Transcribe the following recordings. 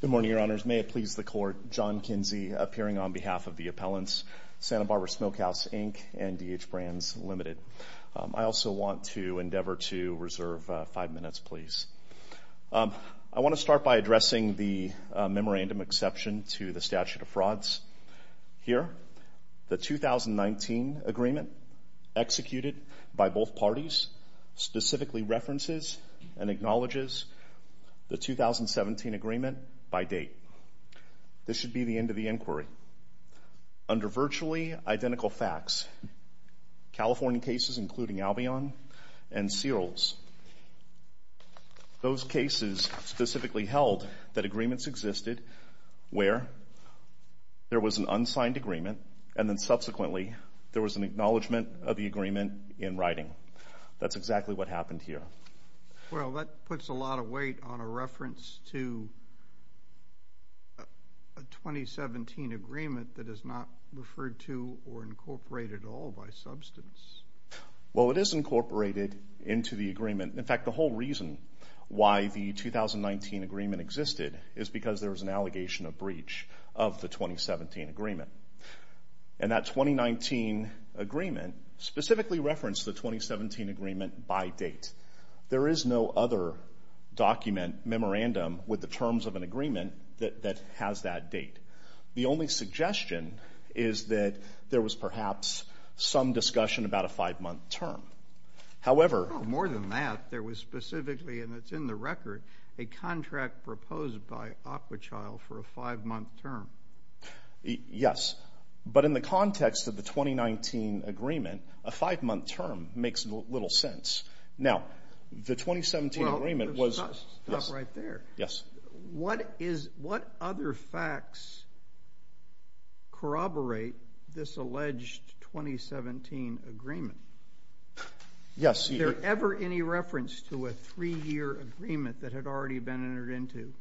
Good morning, Your Honors. May it please the Court, John Kinsey appearing on behalf of the appellants, Santa Barbara Smokehouse, Inc. and DH Brands, Ltd. I also want to endeavor to reserve five minutes, please. I want to start by addressing the memorandum exception to the statute of frauds. Here, the 2019 agreement executed by both parties specifically references and acknowledges the 2017 agreement by date. This should be the end of the inquiry. Under virtually identical facts, California cases including Albion and Searles, those there, there was an unsigned agreement, and then subsequently, there was an acknowledgment of the agreement in writing. That's exactly what happened here. Well, that puts a lot of weight on a reference to a 2017 agreement that is not referred to or incorporated at all by substance. Well, it is incorporated into the agreement. In fact, the whole reason why the 2019 agreement existed is because there was an allegation of breach of the 2017 agreement. And that 2019 agreement specifically referenced the 2017 agreement by date. There is no other document, memorandum, with the terms of an agreement that has that date. The only suggestion is that there was perhaps some discussion about a five-month term. However... More than that, there was specifically, and it's in the record, a contract proposed by a five-month term. Yes. But in the context of the 2019 agreement, a five-month term makes little sense. Now, the 2017 agreement was... Well, let's stop right there. Yes. What other facts corroborate this alleged 2017 agreement? Yes. Is there ever any reference to a three-year agreement that had already been entered into?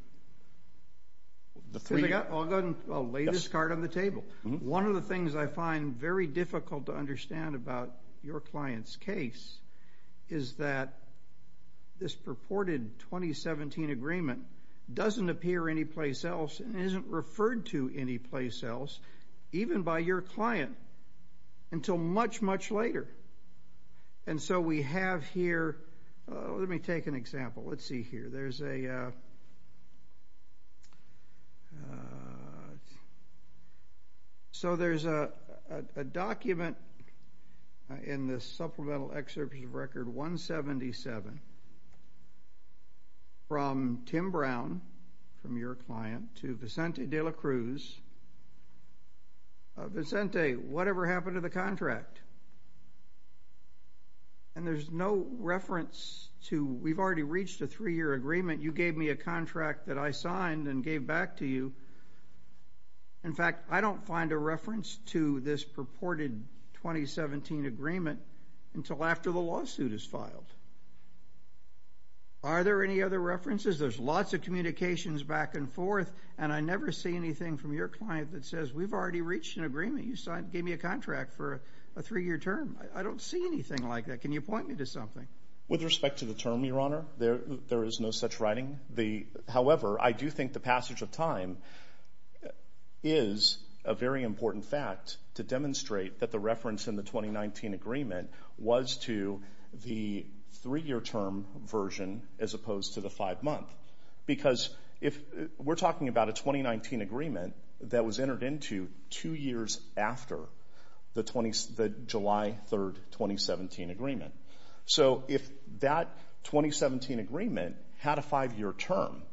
The three... I'll go ahead and lay this card on the table. One of the things I find very difficult to understand about your client's case is that this purported 2017 agreement doesn't appear anyplace else and isn't referred to anyplace else, even by your client, until much, much later. And so we have here... Let me take an example. Let's see here. There's a... So there's a document in the Supplemental Excerpt of Record 177 from Tim Brown, from your client, to Vicente de la Cruz. Vicente, whatever happened to the contract? And there's no reference to... We've already reached a three-year agreement. You gave me a contract that I signed and gave back to you. In fact, I don't find a reference to this purported 2017 agreement until after the lawsuit is filed. Are there any other references? There's lots of communications back and forth, and I never see anything from your client that says, we've already reached an agreement. You gave me a contract for a three-year term. I don't see anything like that. Can you point me to something? With respect to the term, Your Honor, there is no such writing. However, I do think the passage of time is a very important fact to demonstrate that the reference in the 2019 agreement was to the three-year term version as opposed to the five-month. Because we're talking about a 2019 agreement that was entered into two years after the July 3, 2017 agreement. So if that 2017 agreement had a five-year term,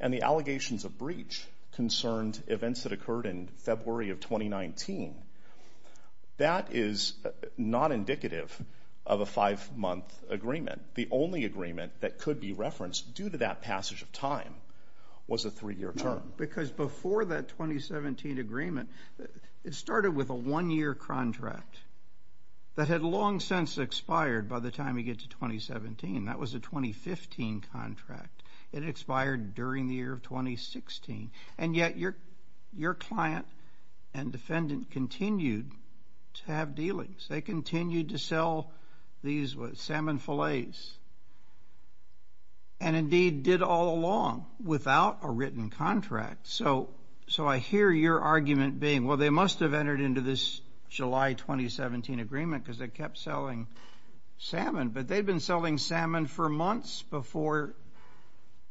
and the allegations of breach concerned events that occurred in February of 2019, that is not indicative of a five-month agreement. The only agreement that could be referenced due to that passage of time was a three-year term. No, because before that 2017 agreement, it started with a one-year contract that had long since expired by the time you get to 2017. That was a 2015 contract. It expired during the year of 2016, and yet your client and defendant continued to have dealings. They continued to sell these salmon fillets and indeed did all along without a written contract. So I hear your argument being, well, they must have entered into this July 2017 agreement because they kept selling salmon, but they'd been selling salmon for months before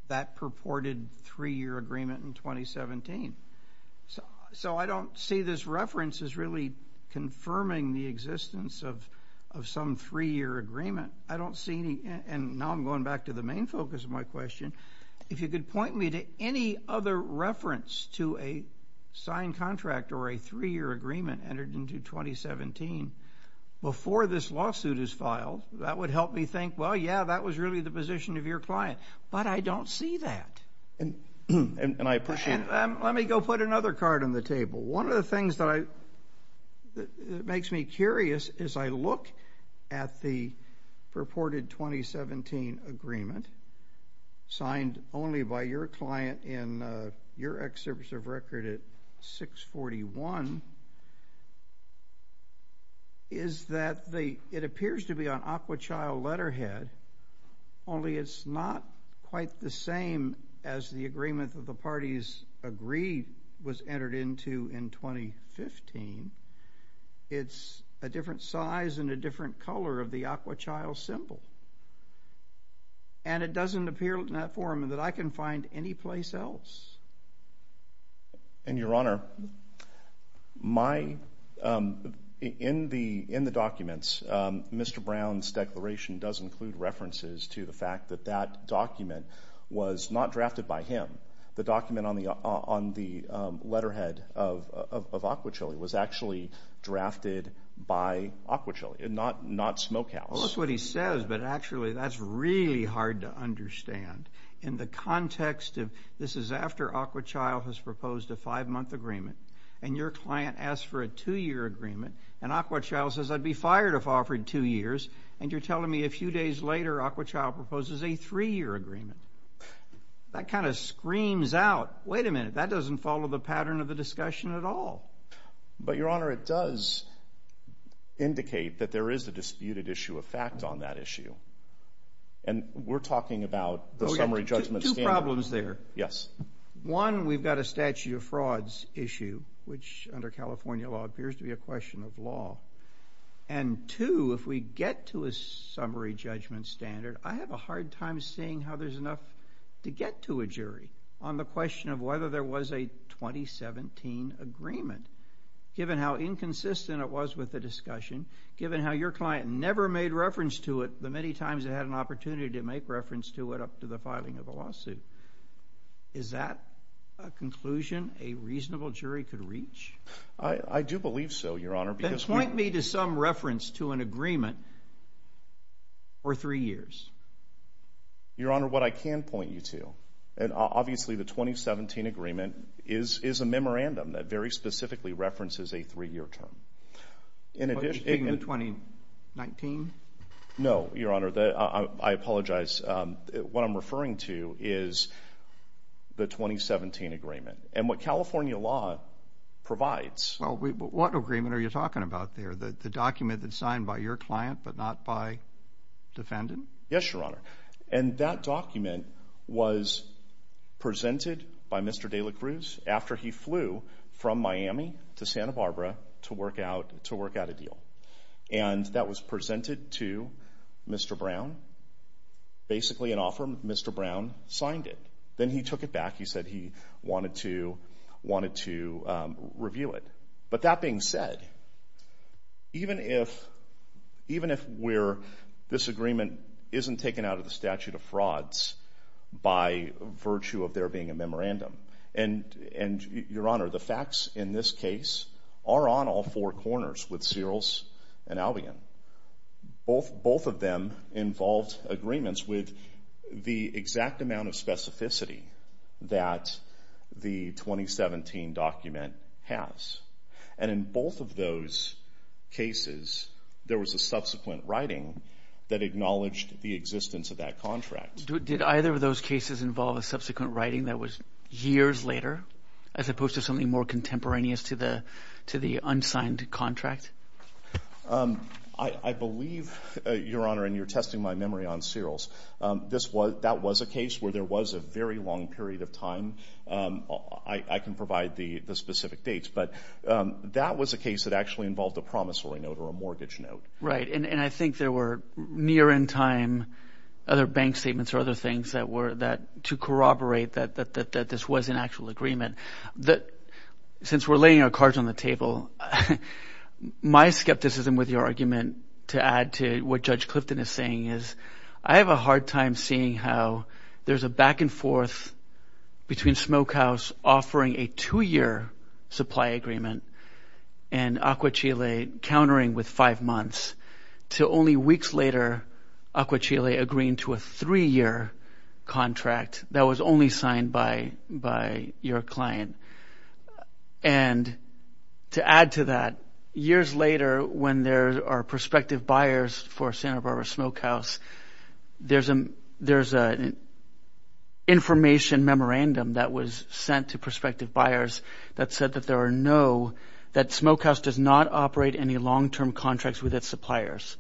that purported three-year agreement in 2017. So I don't see this reference as really confirming the existence of some three-year agreement. I don't see any, and now I'm going back to the main focus of my question. If you could point me to any other reference to a signed contract or a three-year agreement entered into 2017 before this lawsuit is filed, that would help me think, well, yeah, that was really the position of your client, but I don't see that. And I appreciate that. Let me go put another card on the table. One of the things that makes me curious is I look at the purported 2017 agreement signed only by your client in your excerpt of record at 641, is that it appears to be on aqua child letterhead, only it's not quite the same as the agreement that the parties agreed was entered into in 2015. It's a different size and a different color of the aqua child symbol, and it doesn't appear in that form that I can find any place else. And, Your Honor, in the documents, Mr. Brown's declaration does include references to the fact that that document was not drafted by him. The document on the letterhead of aqua child was actually drafted by aqua child, not Smokehouse. Well, that's what he says, but actually that's really hard to understand. In the context of this is after aqua child has proposed a five-month agreement, and your client asks for a two-year agreement, and aqua child says, I'd be fired if offered two years, and you're telling me a few days later aqua child proposes a three-year agreement. That kind of screams out, wait a minute, that doesn't follow the pattern of the discussion at all. But, Your Honor, it does indicate that there is a disputed issue of fact on that issue, and we're talking about the summary judgment scandal. Two problems there. Yes. One, we've got a statute of frauds issue, which under California law appears to be a question of law. And two, if we get to a summary judgment standard, I have a hard time seeing how there's enough to get to a jury on the question of whether there was a 2017 agreement, given how inconsistent it was with the discussion, given how your client never made reference to it the many times they had an opportunity to make reference to it up to the filing of the lawsuit. Is that a conclusion a reasonable jury could reach? I do believe so, Your Honor. Then point me to some reference to an agreement for three years. Your Honor, what I can point you to, and obviously the 2017 agreement is a memorandum that very specifically references a three-year term. Are you speaking of 2019? No, Your Honor. I apologize. What I'm referring to is the 2017 agreement, and what California law provides. Well, what agreement are you talking about there, the document that's signed by your client but not by defendant? Yes, Your Honor. And that document was presented by Mr. De La Cruz after he flew from Miami to Santa Barbara to work out a deal. And that was presented to Mr. Brown, basically an offer Mr. Brown signed it. Then he took it back. He said he wanted to review it. But that being said, even if this agreement isn't taken out of the statute of frauds by virtue of there being a memorandum, Your Honor, the facts in this case are on all four corners with Searles and Albion. Both of them involved agreements with the exact amount of specificity that the 2017 document has. And in both of those cases, there was a subsequent writing that acknowledged the existence of that contract. Did either of those cases involve a subsequent writing that was years later, as opposed to something more contemporaneous to the unsigned contract? I believe, Your Honor, and you're testing my memory on Searles, that was a case where there was a very long period of time. I can provide the specific dates. But that was a case that actually involved a promissory note or a mortgage note. Right, and I think there were near in time other bank statements or other things to corroborate that this was an actual agreement. Since we're laying our cards on the table, my skepticism with your argument to add to what Judge Clifton is saying is, I have a hard time seeing how there's a back and forth between Smokehouse offering a two-year supply agreement and Aqua Chile countering with five months to only weeks later, Aqua Chile agreeing to a three-year contract that was only signed by your client. And to add to that, years later, when there are prospective buyers for Santa Barbara Smokehouse, there's an information memorandum that was sent to prospective buyers that said that there are no – that Smokehouse does not operate any long-term contracts with its suppliers.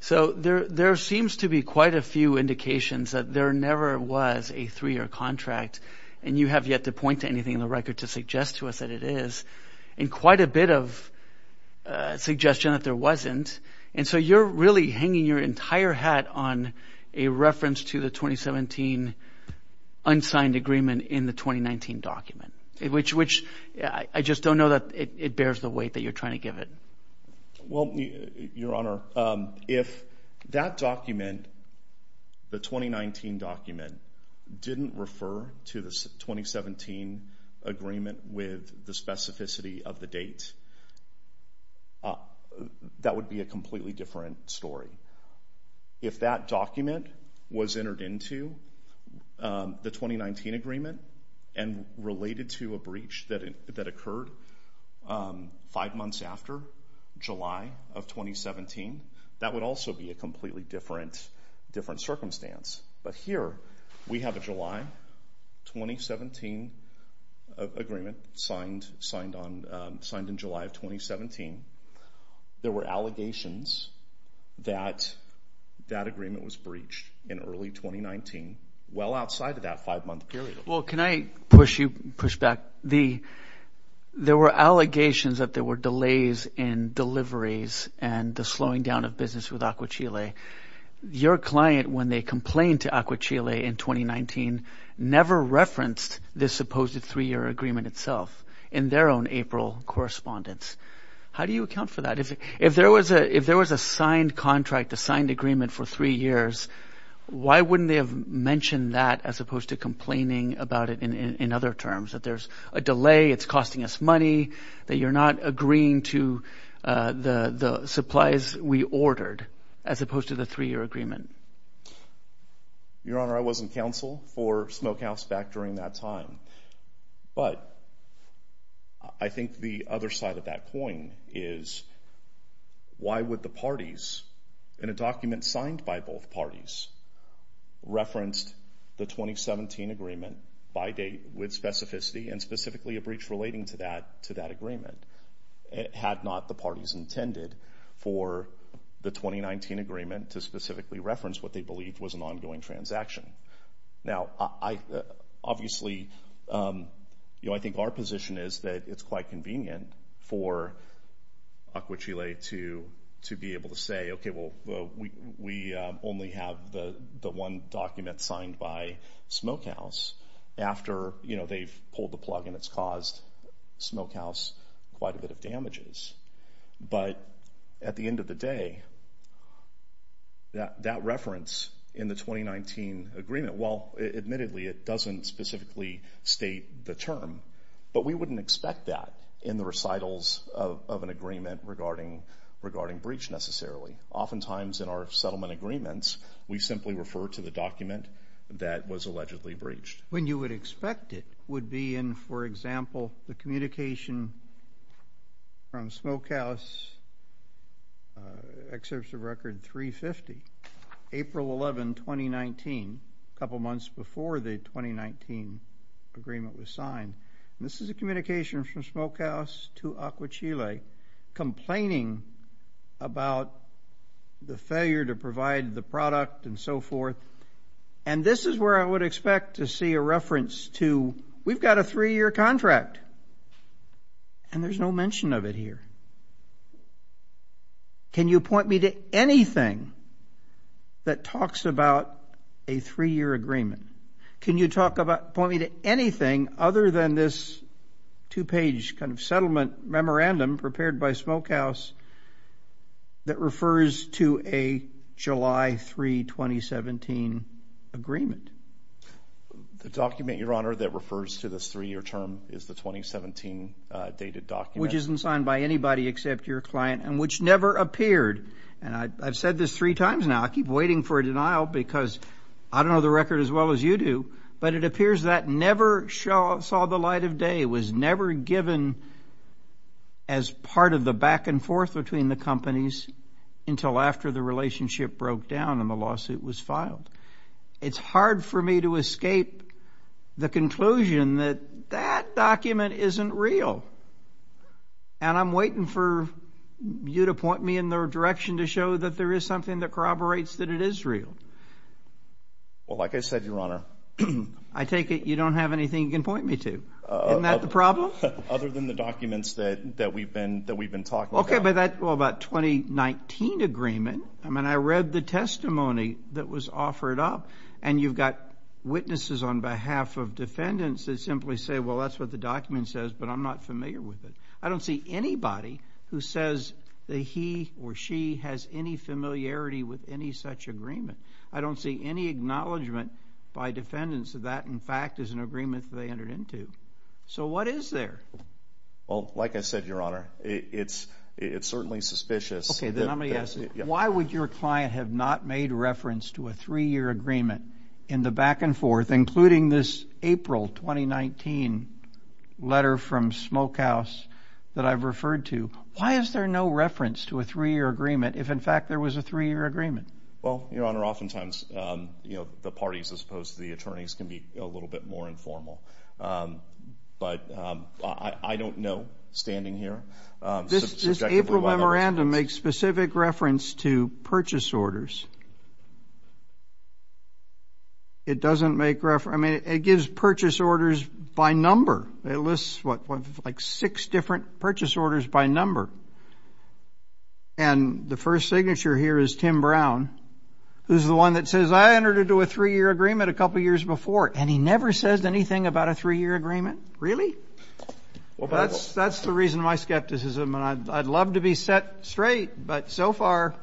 So there seems to be quite a few indications that there never was a three-year contract, and you have yet to point to anything in the record to suggest to us that it is, and quite a bit of suggestion that there wasn't. And so you're really hanging your entire hat on a reference to the 2017 unsigned agreement in the 2019 document, which I just don't know that it bears the weight that you're trying to give it. Well, Your Honor, if that document, the 2019 document, didn't refer to the 2017 agreement with the specificity of the date, that would be a completely different story. If that document was entered into the 2019 agreement and related to a breach that occurred five months after July of 2017, that would also be a completely different circumstance. But here we have a July 2017 agreement signed in July of 2017. There were allegations that that agreement was breached in early 2019, well outside of that five-month period. Well, can I push you – push back? There were allegations that there were delays in deliveries and the slowing down of business with Aqua Chile. Your client, when they complained to Aqua Chile in 2019, never referenced this supposed three-year agreement itself in their own April correspondence. How do you account for that? If there was a signed contract, a signed agreement for three years, why wouldn't they have mentioned that as opposed to complaining about it in other terms, that there's a delay, it's costing us money, that you're not agreeing to the supplies we ordered as opposed to the three-year agreement? Your Honor, I was in counsel for Smokehouse back during that time. But I think the other side of that coin is why would the parties, in a document signed by both parties, reference the 2017 agreement by date with specificity and specifically a breach relating to that agreement, had not the parties intended for the 2019 agreement to specifically reference what they believed was an ongoing transaction? Now, obviously, I think our position is that it's quite convenient for Aqua Chile to be able to say, okay, well, we only have the one document signed by Smokehouse after they've pulled the plug and it's caused Smokehouse quite a bit of damages. But at the end of the day, that reference in the 2019 agreement, well, admittedly, it doesn't specifically state the term, but we wouldn't expect that in the recitals of an agreement regarding breach necessarily. Oftentimes in our settlement agreements, we simply refer to the document that was allegedly breached. When you would expect it would be in, for example, the communication from Smokehouse Exhibit of Record 350, April 11, 2019, a couple months before the 2019 agreement was signed. This is a communication from Smokehouse to Aqua Chile complaining about the failure to provide the product and so forth. And this is where I would expect to see a reference to, we've got a three-year contract, and there's no mention of it here. Can you point me to anything that talks about a three-year agreement? Can you point me to anything other than this two-page kind of settlement memorandum prepared by Smokehouse that refers to a July 3, 2017 agreement? The document, Your Honor, that refers to this three-year term is the 2017 dated document. Which isn't signed by anybody except your client and which never appeared. And I've said this three times now. I keep waiting for a denial because I don't know the record as well as you do, but it appears that never saw the light of day. It was never given as part of the back and forth between the companies until after the relationship broke down and the lawsuit was filed. It's hard for me to escape the conclusion that that document isn't real. And I'm waiting for you to point me in the direction to show that there is something that corroborates that it is real. Well, like I said, Your Honor. I take it you don't have anything you can point me to. Isn't that the problem? Other than the documents that we've been talking about. Okay, well, about 2019 agreement. I mean, I read the testimony that was offered up, and you've got witnesses on behalf of defendants that simply say, well, that's what the document says, but I'm not familiar with it. I don't see anybody who says that he or she has any familiarity with any such agreement. I don't see any acknowledgement by defendants that that, in fact, is an agreement that they entered into. So what is there? Well, like I said, Your Honor, it's certainly suspicious. Okay, then I'm going to ask you, why would your client have not made reference to a three-year agreement in the back and forth, including this April 2019 letter from Smokehouse that I've referred to? Why is there no reference to a three-year agreement if, in fact, there was a three-year agreement? Well, Your Honor, oftentimes the parties as opposed to the attorneys can be a little bit more informal. But I don't know, standing here. This April memorandum makes specific reference to purchase orders. It doesn't make reference. I mean, it gives purchase orders by number. It lists, what, like six different purchase orders by number. And the first signature here is Tim Brown, who's the one that says, I entered into a three-year agreement a couple years before, and he never says anything about a three-year agreement. Really? That's the reason my skepticism, and I'd love to be set straight, but so far.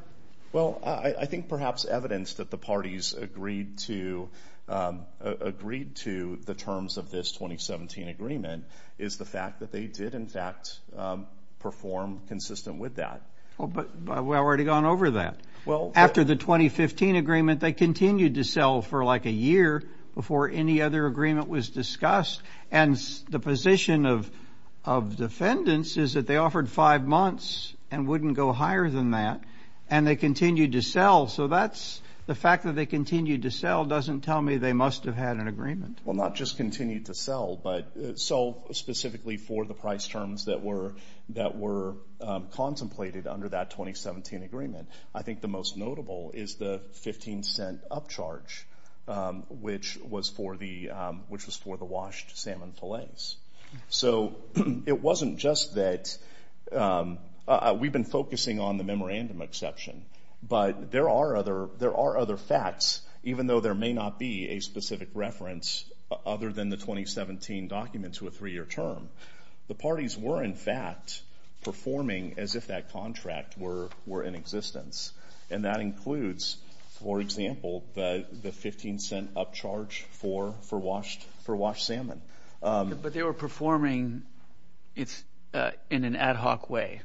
Well, I think perhaps evidence that the parties agreed to the terms of this 2017 agreement is the fact that they did, in fact, perform consistent with that. But we've already gone over that. After the 2015 agreement, they continued to sell for like a year before any other agreement was discussed. And the position of defendants is that they offered five months and wouldn't go higher than that, and they continued to sell. So that's the fact that they continued to sell doesn't tell me they must have had an agreement. Well, not just continued to sell, but sold specifically for the price terms that were contemplated under that 2017 agreement. I think the most notable is the 15-cent upcharge, which was for the washed salmon fillets. So it wasn't just that we've been focusing on the memorandum exception, but there are other facts, even though there may not be a specific reference other than the 2017 document to a three-year term. The parties were, in fact, performing as if that contract were in existence. And that includes, for example, the 15-cent upcharge for washed salmon. But they were performing in an ad hoc way,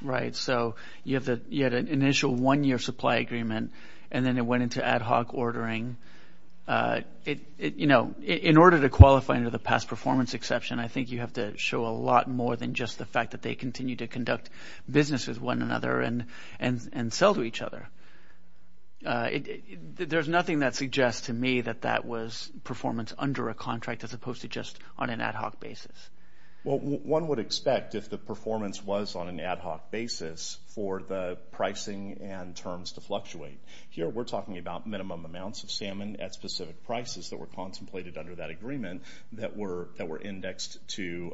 right? So you had an initial one-year supply agreement, and then it went into ad hoc ordering. You know, in order to qualify under the past performance exception, I think you have to show a lot more than just the fact that they continue to conduct business with one another and sell to each other. There's nothing that suggests to me that that was performance under a contract as opposed to just on an ad hoc basis. Well, one would expect if the performance was on an ad hoc basis for the pricing and terms to fluctuate. Here we're talking about minimum amounts of salmon at specific prices that were contemplated under that agreement that were indexed to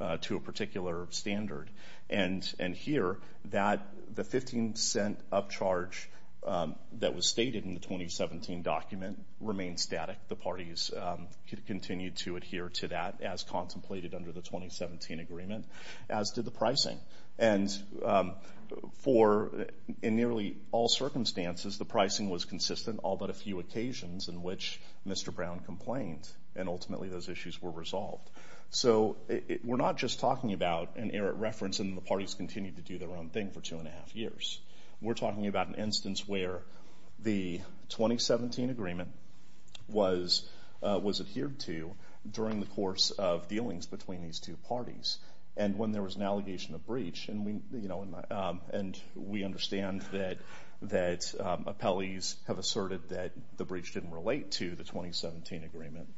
a particular standard. And here, the 15-cent upcharge that was stated in the 2017 document remains static. The parties continue to adhere to that as contemplated under the 2017 agreement, as did the pricing. And in nearly all circumstances, the pricing was consistent, all but a few occasions in which Mr. Brown complained, and ultimately those issues were resolved. So we're not just talking about an errant reference, and the parties continue to do their own thing for two and a half years. We're talking about an instance where the 2017 agreement was adhered to during the course of dealings between these two parties. And when there was an allegation of breach, and we understand that appellees have asserted that the breach didn't relate to the 2017 agreement,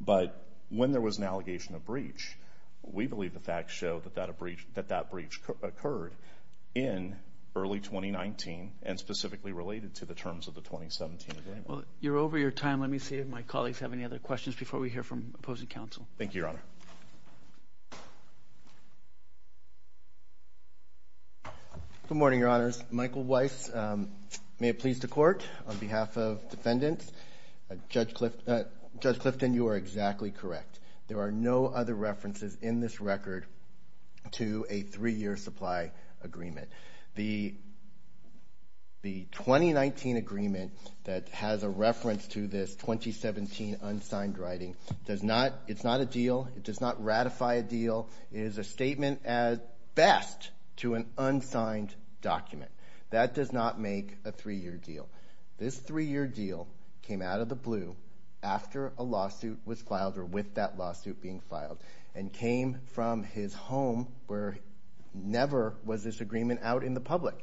but when there was an allegation of breach, we believe the facts show that that breach occurred in early 2019 and specifically related to the terms of the 2017 agreement. Well, you're over your time. Let me see if my colleagues have any other questions before we hear from opposing counsel. Thank you, Your Honor. Good morning, Your Honors. Michael Weiss, may it please the Court. On behalf of defendants, Judge Clifton, you are exactly correct. There are no other references in this record to a three-year supply agreement. The 2019 agreement that has a reference to this 2017 unsigned writing, it's not a deal, it does not ratify a deal, it is a statement at best to an unsigned document. That does not make a three-year deal. This three-year deal came out of the blue after a lawsuit was filed or with that lawsuit being filed and came from his home where never was this agreement out in the public.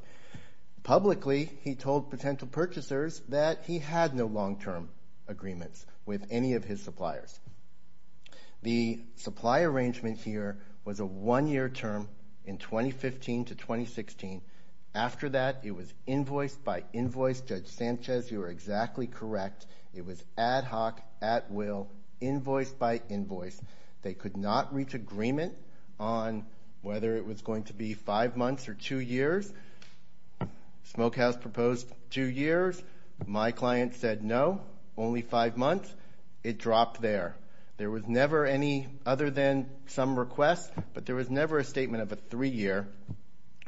Publicly, he told potential purchasers that he had no long-term agreements with any of his suppliers. The supply arrangement here was a one-year term in 2015 to 2016. After that, it was invoice by invoice. Judge Sanchez, you are exactly correct. It was ad hoc, at will, invoice by invoice. They could not reach agreement on whether it was going to be five months or two years. Smokehouse proposed two years. My client said no, only five months. It dropped there. There was never any other than some request, but there was never a statement of a three-year.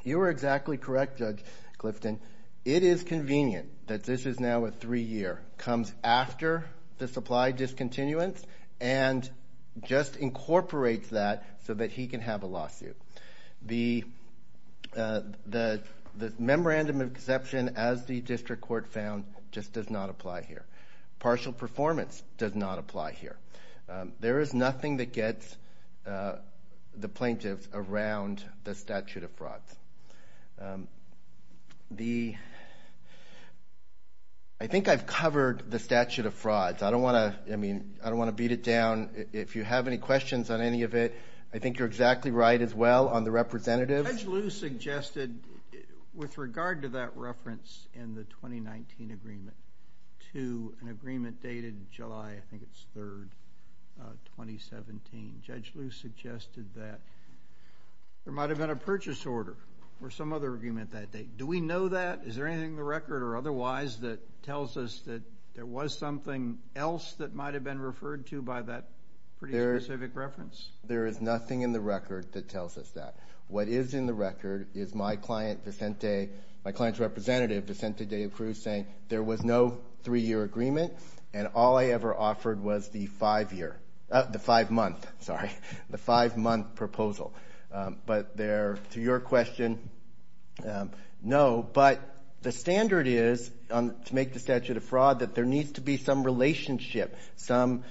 You are exactly correct, Judge Clifton. It is convenient that this is now a three-year. It comes after the supply discontinuance and just incorporates that so that he can have a lawsuit. The memorandum of exception, as the district court found, just does not apply here. Partial performance does not apply here. There is nothing that gets the plaintiffs around the statute of frauds. I think I've covered the statute of frauds. I don't want to beat it down. If you have any questions on any of it, I think you're exactly right as well on the representative. Judge Liu suggested with regard to that reference in the 2019 agreement to an agreement dated July 3, 2017, Judge Liu suggested that there might have been a purchase order or some other agreement that day. Do we know that? Is there anything in the record or otherwise that tells us that there was something else that might have been referred to by that pretty specific reference? There is nothing in the record that tells us that. What is in the record is my client, Vicente, my client's representative, Vicente de Cruz, saying there was no three-year agreement and all I ever offered was the five-month proposal. But to your question, no. But the standard is, to make the statute of fraud, that there needs to be some relationship, something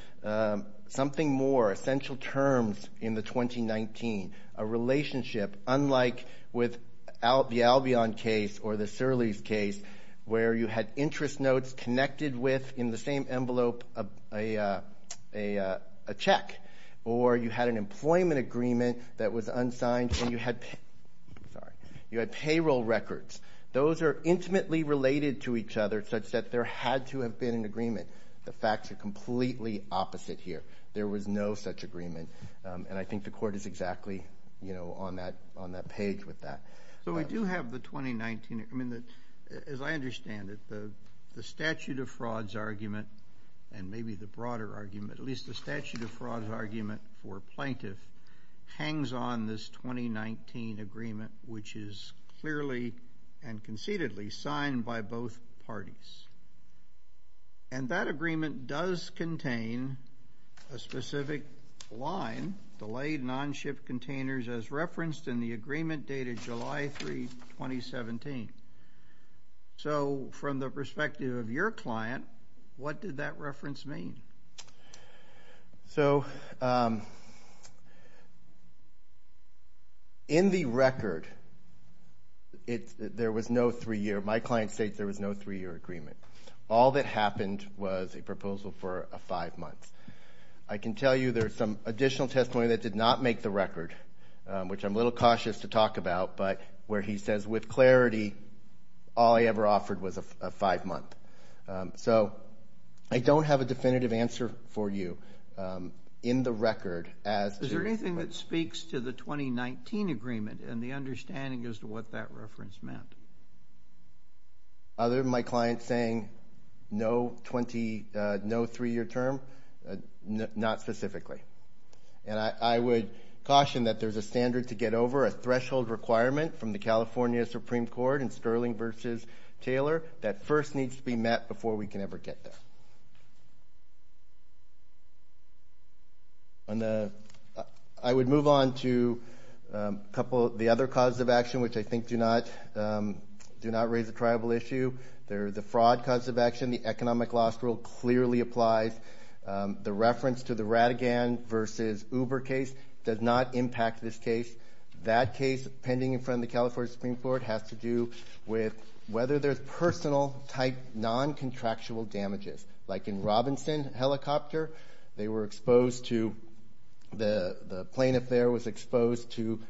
more, essential terms in the 2019, a relationship unlike with the Albion case or the Surleys case where you had interest notes connected with, in the same envelope, a check, or you had an employment agreement that was unsigned and you had payroll records. Those are intimately related to each other such that there had to have been an agreement. The facts are completely opposite here. There was no such agreement, and I think the Court is exactly on that page with that. So we do have the 2019. As I understand it, the statute of frauds argument, and maybe the broader argument, at least the statute of frauds argument for plaintiff, hangs on this 2019 agreement, which is clearly and concededly signed by both parties. And that agreement does contain a specific line, delayed and on-ship containers, as referenced in the agreement dated July 3, 2017. So from the perspective of your client, what did that reference mean? So in the record, there was no three-year. All that happened was a proposal for a five-month. I can tell you there's some additional testimony that did not make the record, which I'm a little cautious to talk about, but where he says with clarity all he ever offered was a five-month. So I don't have a definitive answer for you in the record. Is there anything that speaks to the 2019 agreement and the understanding as to what that reference meant? Other than my client saying no three-year term, not specifically. And I would caution that there's a standard to get over, a threshold requirement from the California Supreme Court in Sterling v. Taylor that first needs to be met before we can ever get there. I would move on to a couple of the other causes of action, which I think do not raise a tribal issue. The fraud cause of action, the economic loss rule clearly applies. The reference to the Ratigan v. Uber case does not impact this case. That case, pending in front of the California Supreme Court, has to do with whether there's personal-type non-contractual damages. Like in Robinson Helicopter, they were exposed to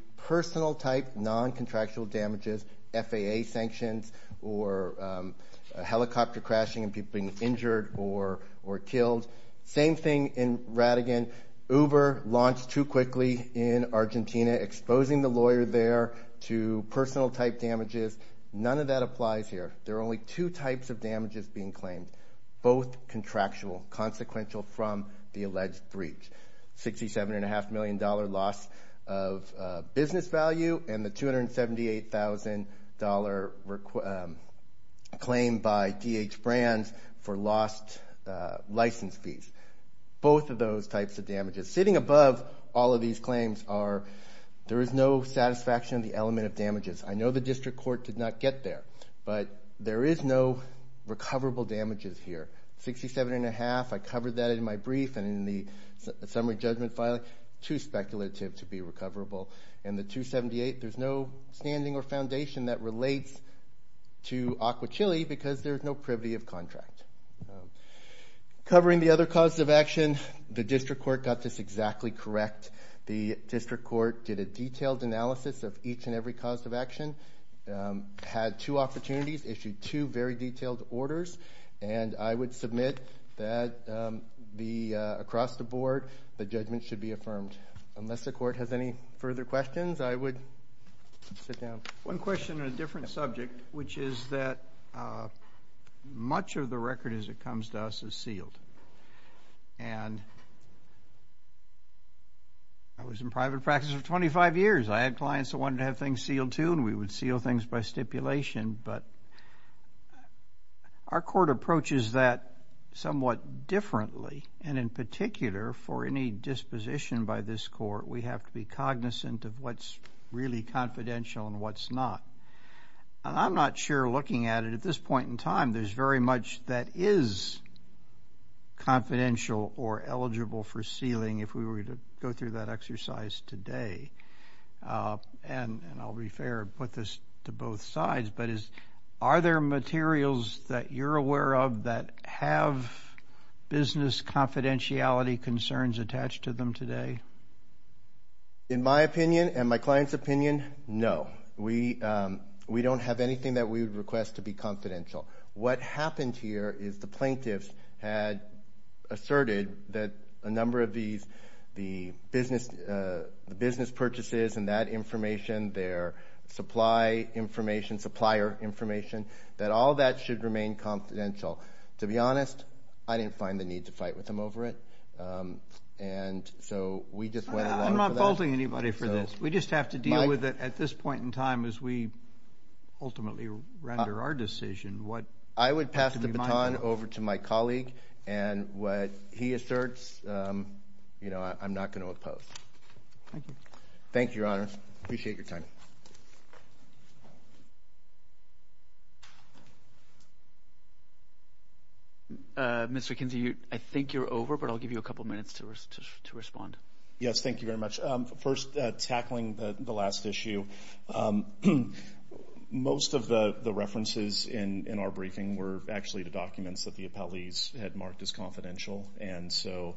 – non-contractual damages, FAA sanctions, or a helicopter crashing and people being injured or killed. Same thing in Ratigan. Uber launched too quickly in Argentina, exposing the lawyer there to personal-type damages. None of that applies here. There are only two types of damages being claimed, both contractual, consequential from the alleged three. $67.5 million loss of business value and the $278,000 claim by DH Brands for lost license fees. Both of those types of damages. Sitting above all of these claims are – there is no satisfaction of the element of damages. I know the district court did not get there, but there is no recoverable damages here. $67.5, I covered that in my brief and in the summary judgment file, too speculative to be recoverable. And the $278,000, there's no standing or foundation that relates to Aqua Chili because there's no privity of contract. Covering the other causes of action, the district court got this exactly correct. The district court did a detailed analysis of each and every cause of action, had two opportunities, issued two very detailed orders, and I would submit that across the board the judgment should be affirmed. Unless the court has any further questions, I would sit down. One question on a different subject, which is that much of the record as it comes to us is sealed. And I was in private practice for 25 years. I had clients that wanted to have things sealed, too, and we would seal things by stipulation. But our court approaches that somewhat differently, and in particular for any disposition by this court, we have to be cognizant of what's really confidential and what's not. And I'm not sure looking at it at this point in time, there's very much that is confidential or eligible for sealing if we were to go through that exercise today. And I'll be fair and put this to both sides, but are there materials that you're aware of that have business confidentiality concerns attached to them today? In my opinion and my client's opinion, no. We don't have anything that we would request to be confidential. What happened here is the plaintiffs had asserted that a number of these, the business purchases and that information, their supply information, supplier information, that all that should remain confidential. To be honest, I didn't find the need to fight with them over it. And so we just went along with that. I'm not faulting anybody for this. We just have to deal with it at this point in time as we ultimately render our decision. I would pass the baton over to my colleague. And what he asserts, you know, I'm not going to oppose. Thank you. Thank you, Your Honor. Appreciate your time. Mr. Kinsey, I think you're over, but I'll give you a couple minutes to respond. Yes, thank you very much. First, tackling the last issue, most of the references in our briefing were actually the documents that the appellees had marked as confidential. And so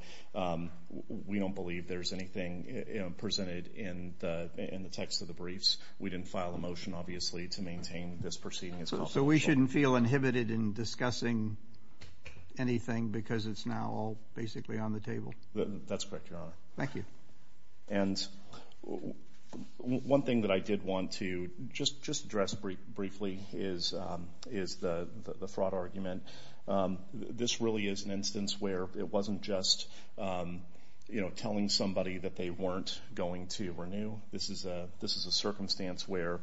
we don't believe there's anything presented in the text of the briefs. We didn't file a motion, obviously, to maintain this proceeding as confidential. So we shouldn't feel inhibited in discussing anything because it's now all basically on the table. That's correct, Your Honor. Thank you. And one thing that I did want to just address briefly is the fraud argument. This really is an instance where it wasn't just, you know, telling somebody that they weren't going to renew. This is a circumstance where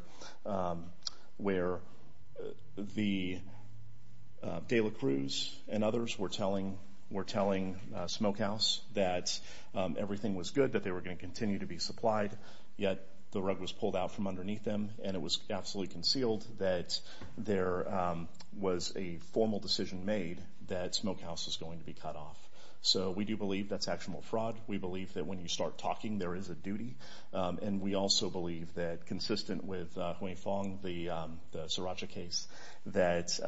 the Dela Cruz and others were telling Smokehouse that everything was good, that they were going to continue to be supplied, yet the rug was pulled out from underneath them, and it was absolutely concealed that there was a formal decision made that Smokehouse was going to be cut off. So we do believe that's actual fraud. We believe that when you start talking, there is a duty. And we also believe that, consistent with Hoang Phuong, the Sriracha case, that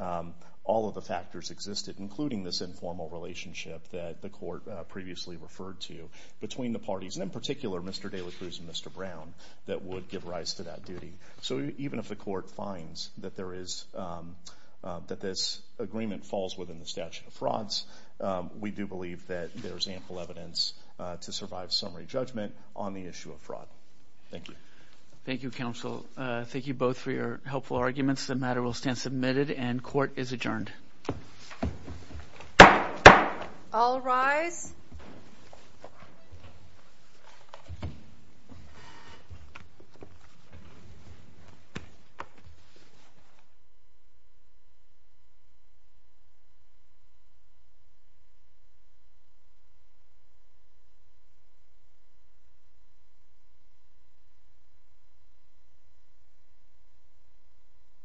all of the factors existed, including this informal relationship that the court previously referred to between the parties, and in particular Mr. Dela Cruz and Mr. Brown, that would give rise to that duty. So even if the court finds that this agreement falls within the statute of frauds, we do believe that there is ample evidence to survive summary judgment on the issue of fraud. Thank you. Thank you, counsel. Thank you both for your helpful arguments. The matter will stand submitted, and court is adjourned. All rise.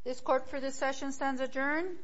This court for this session stands adjourned.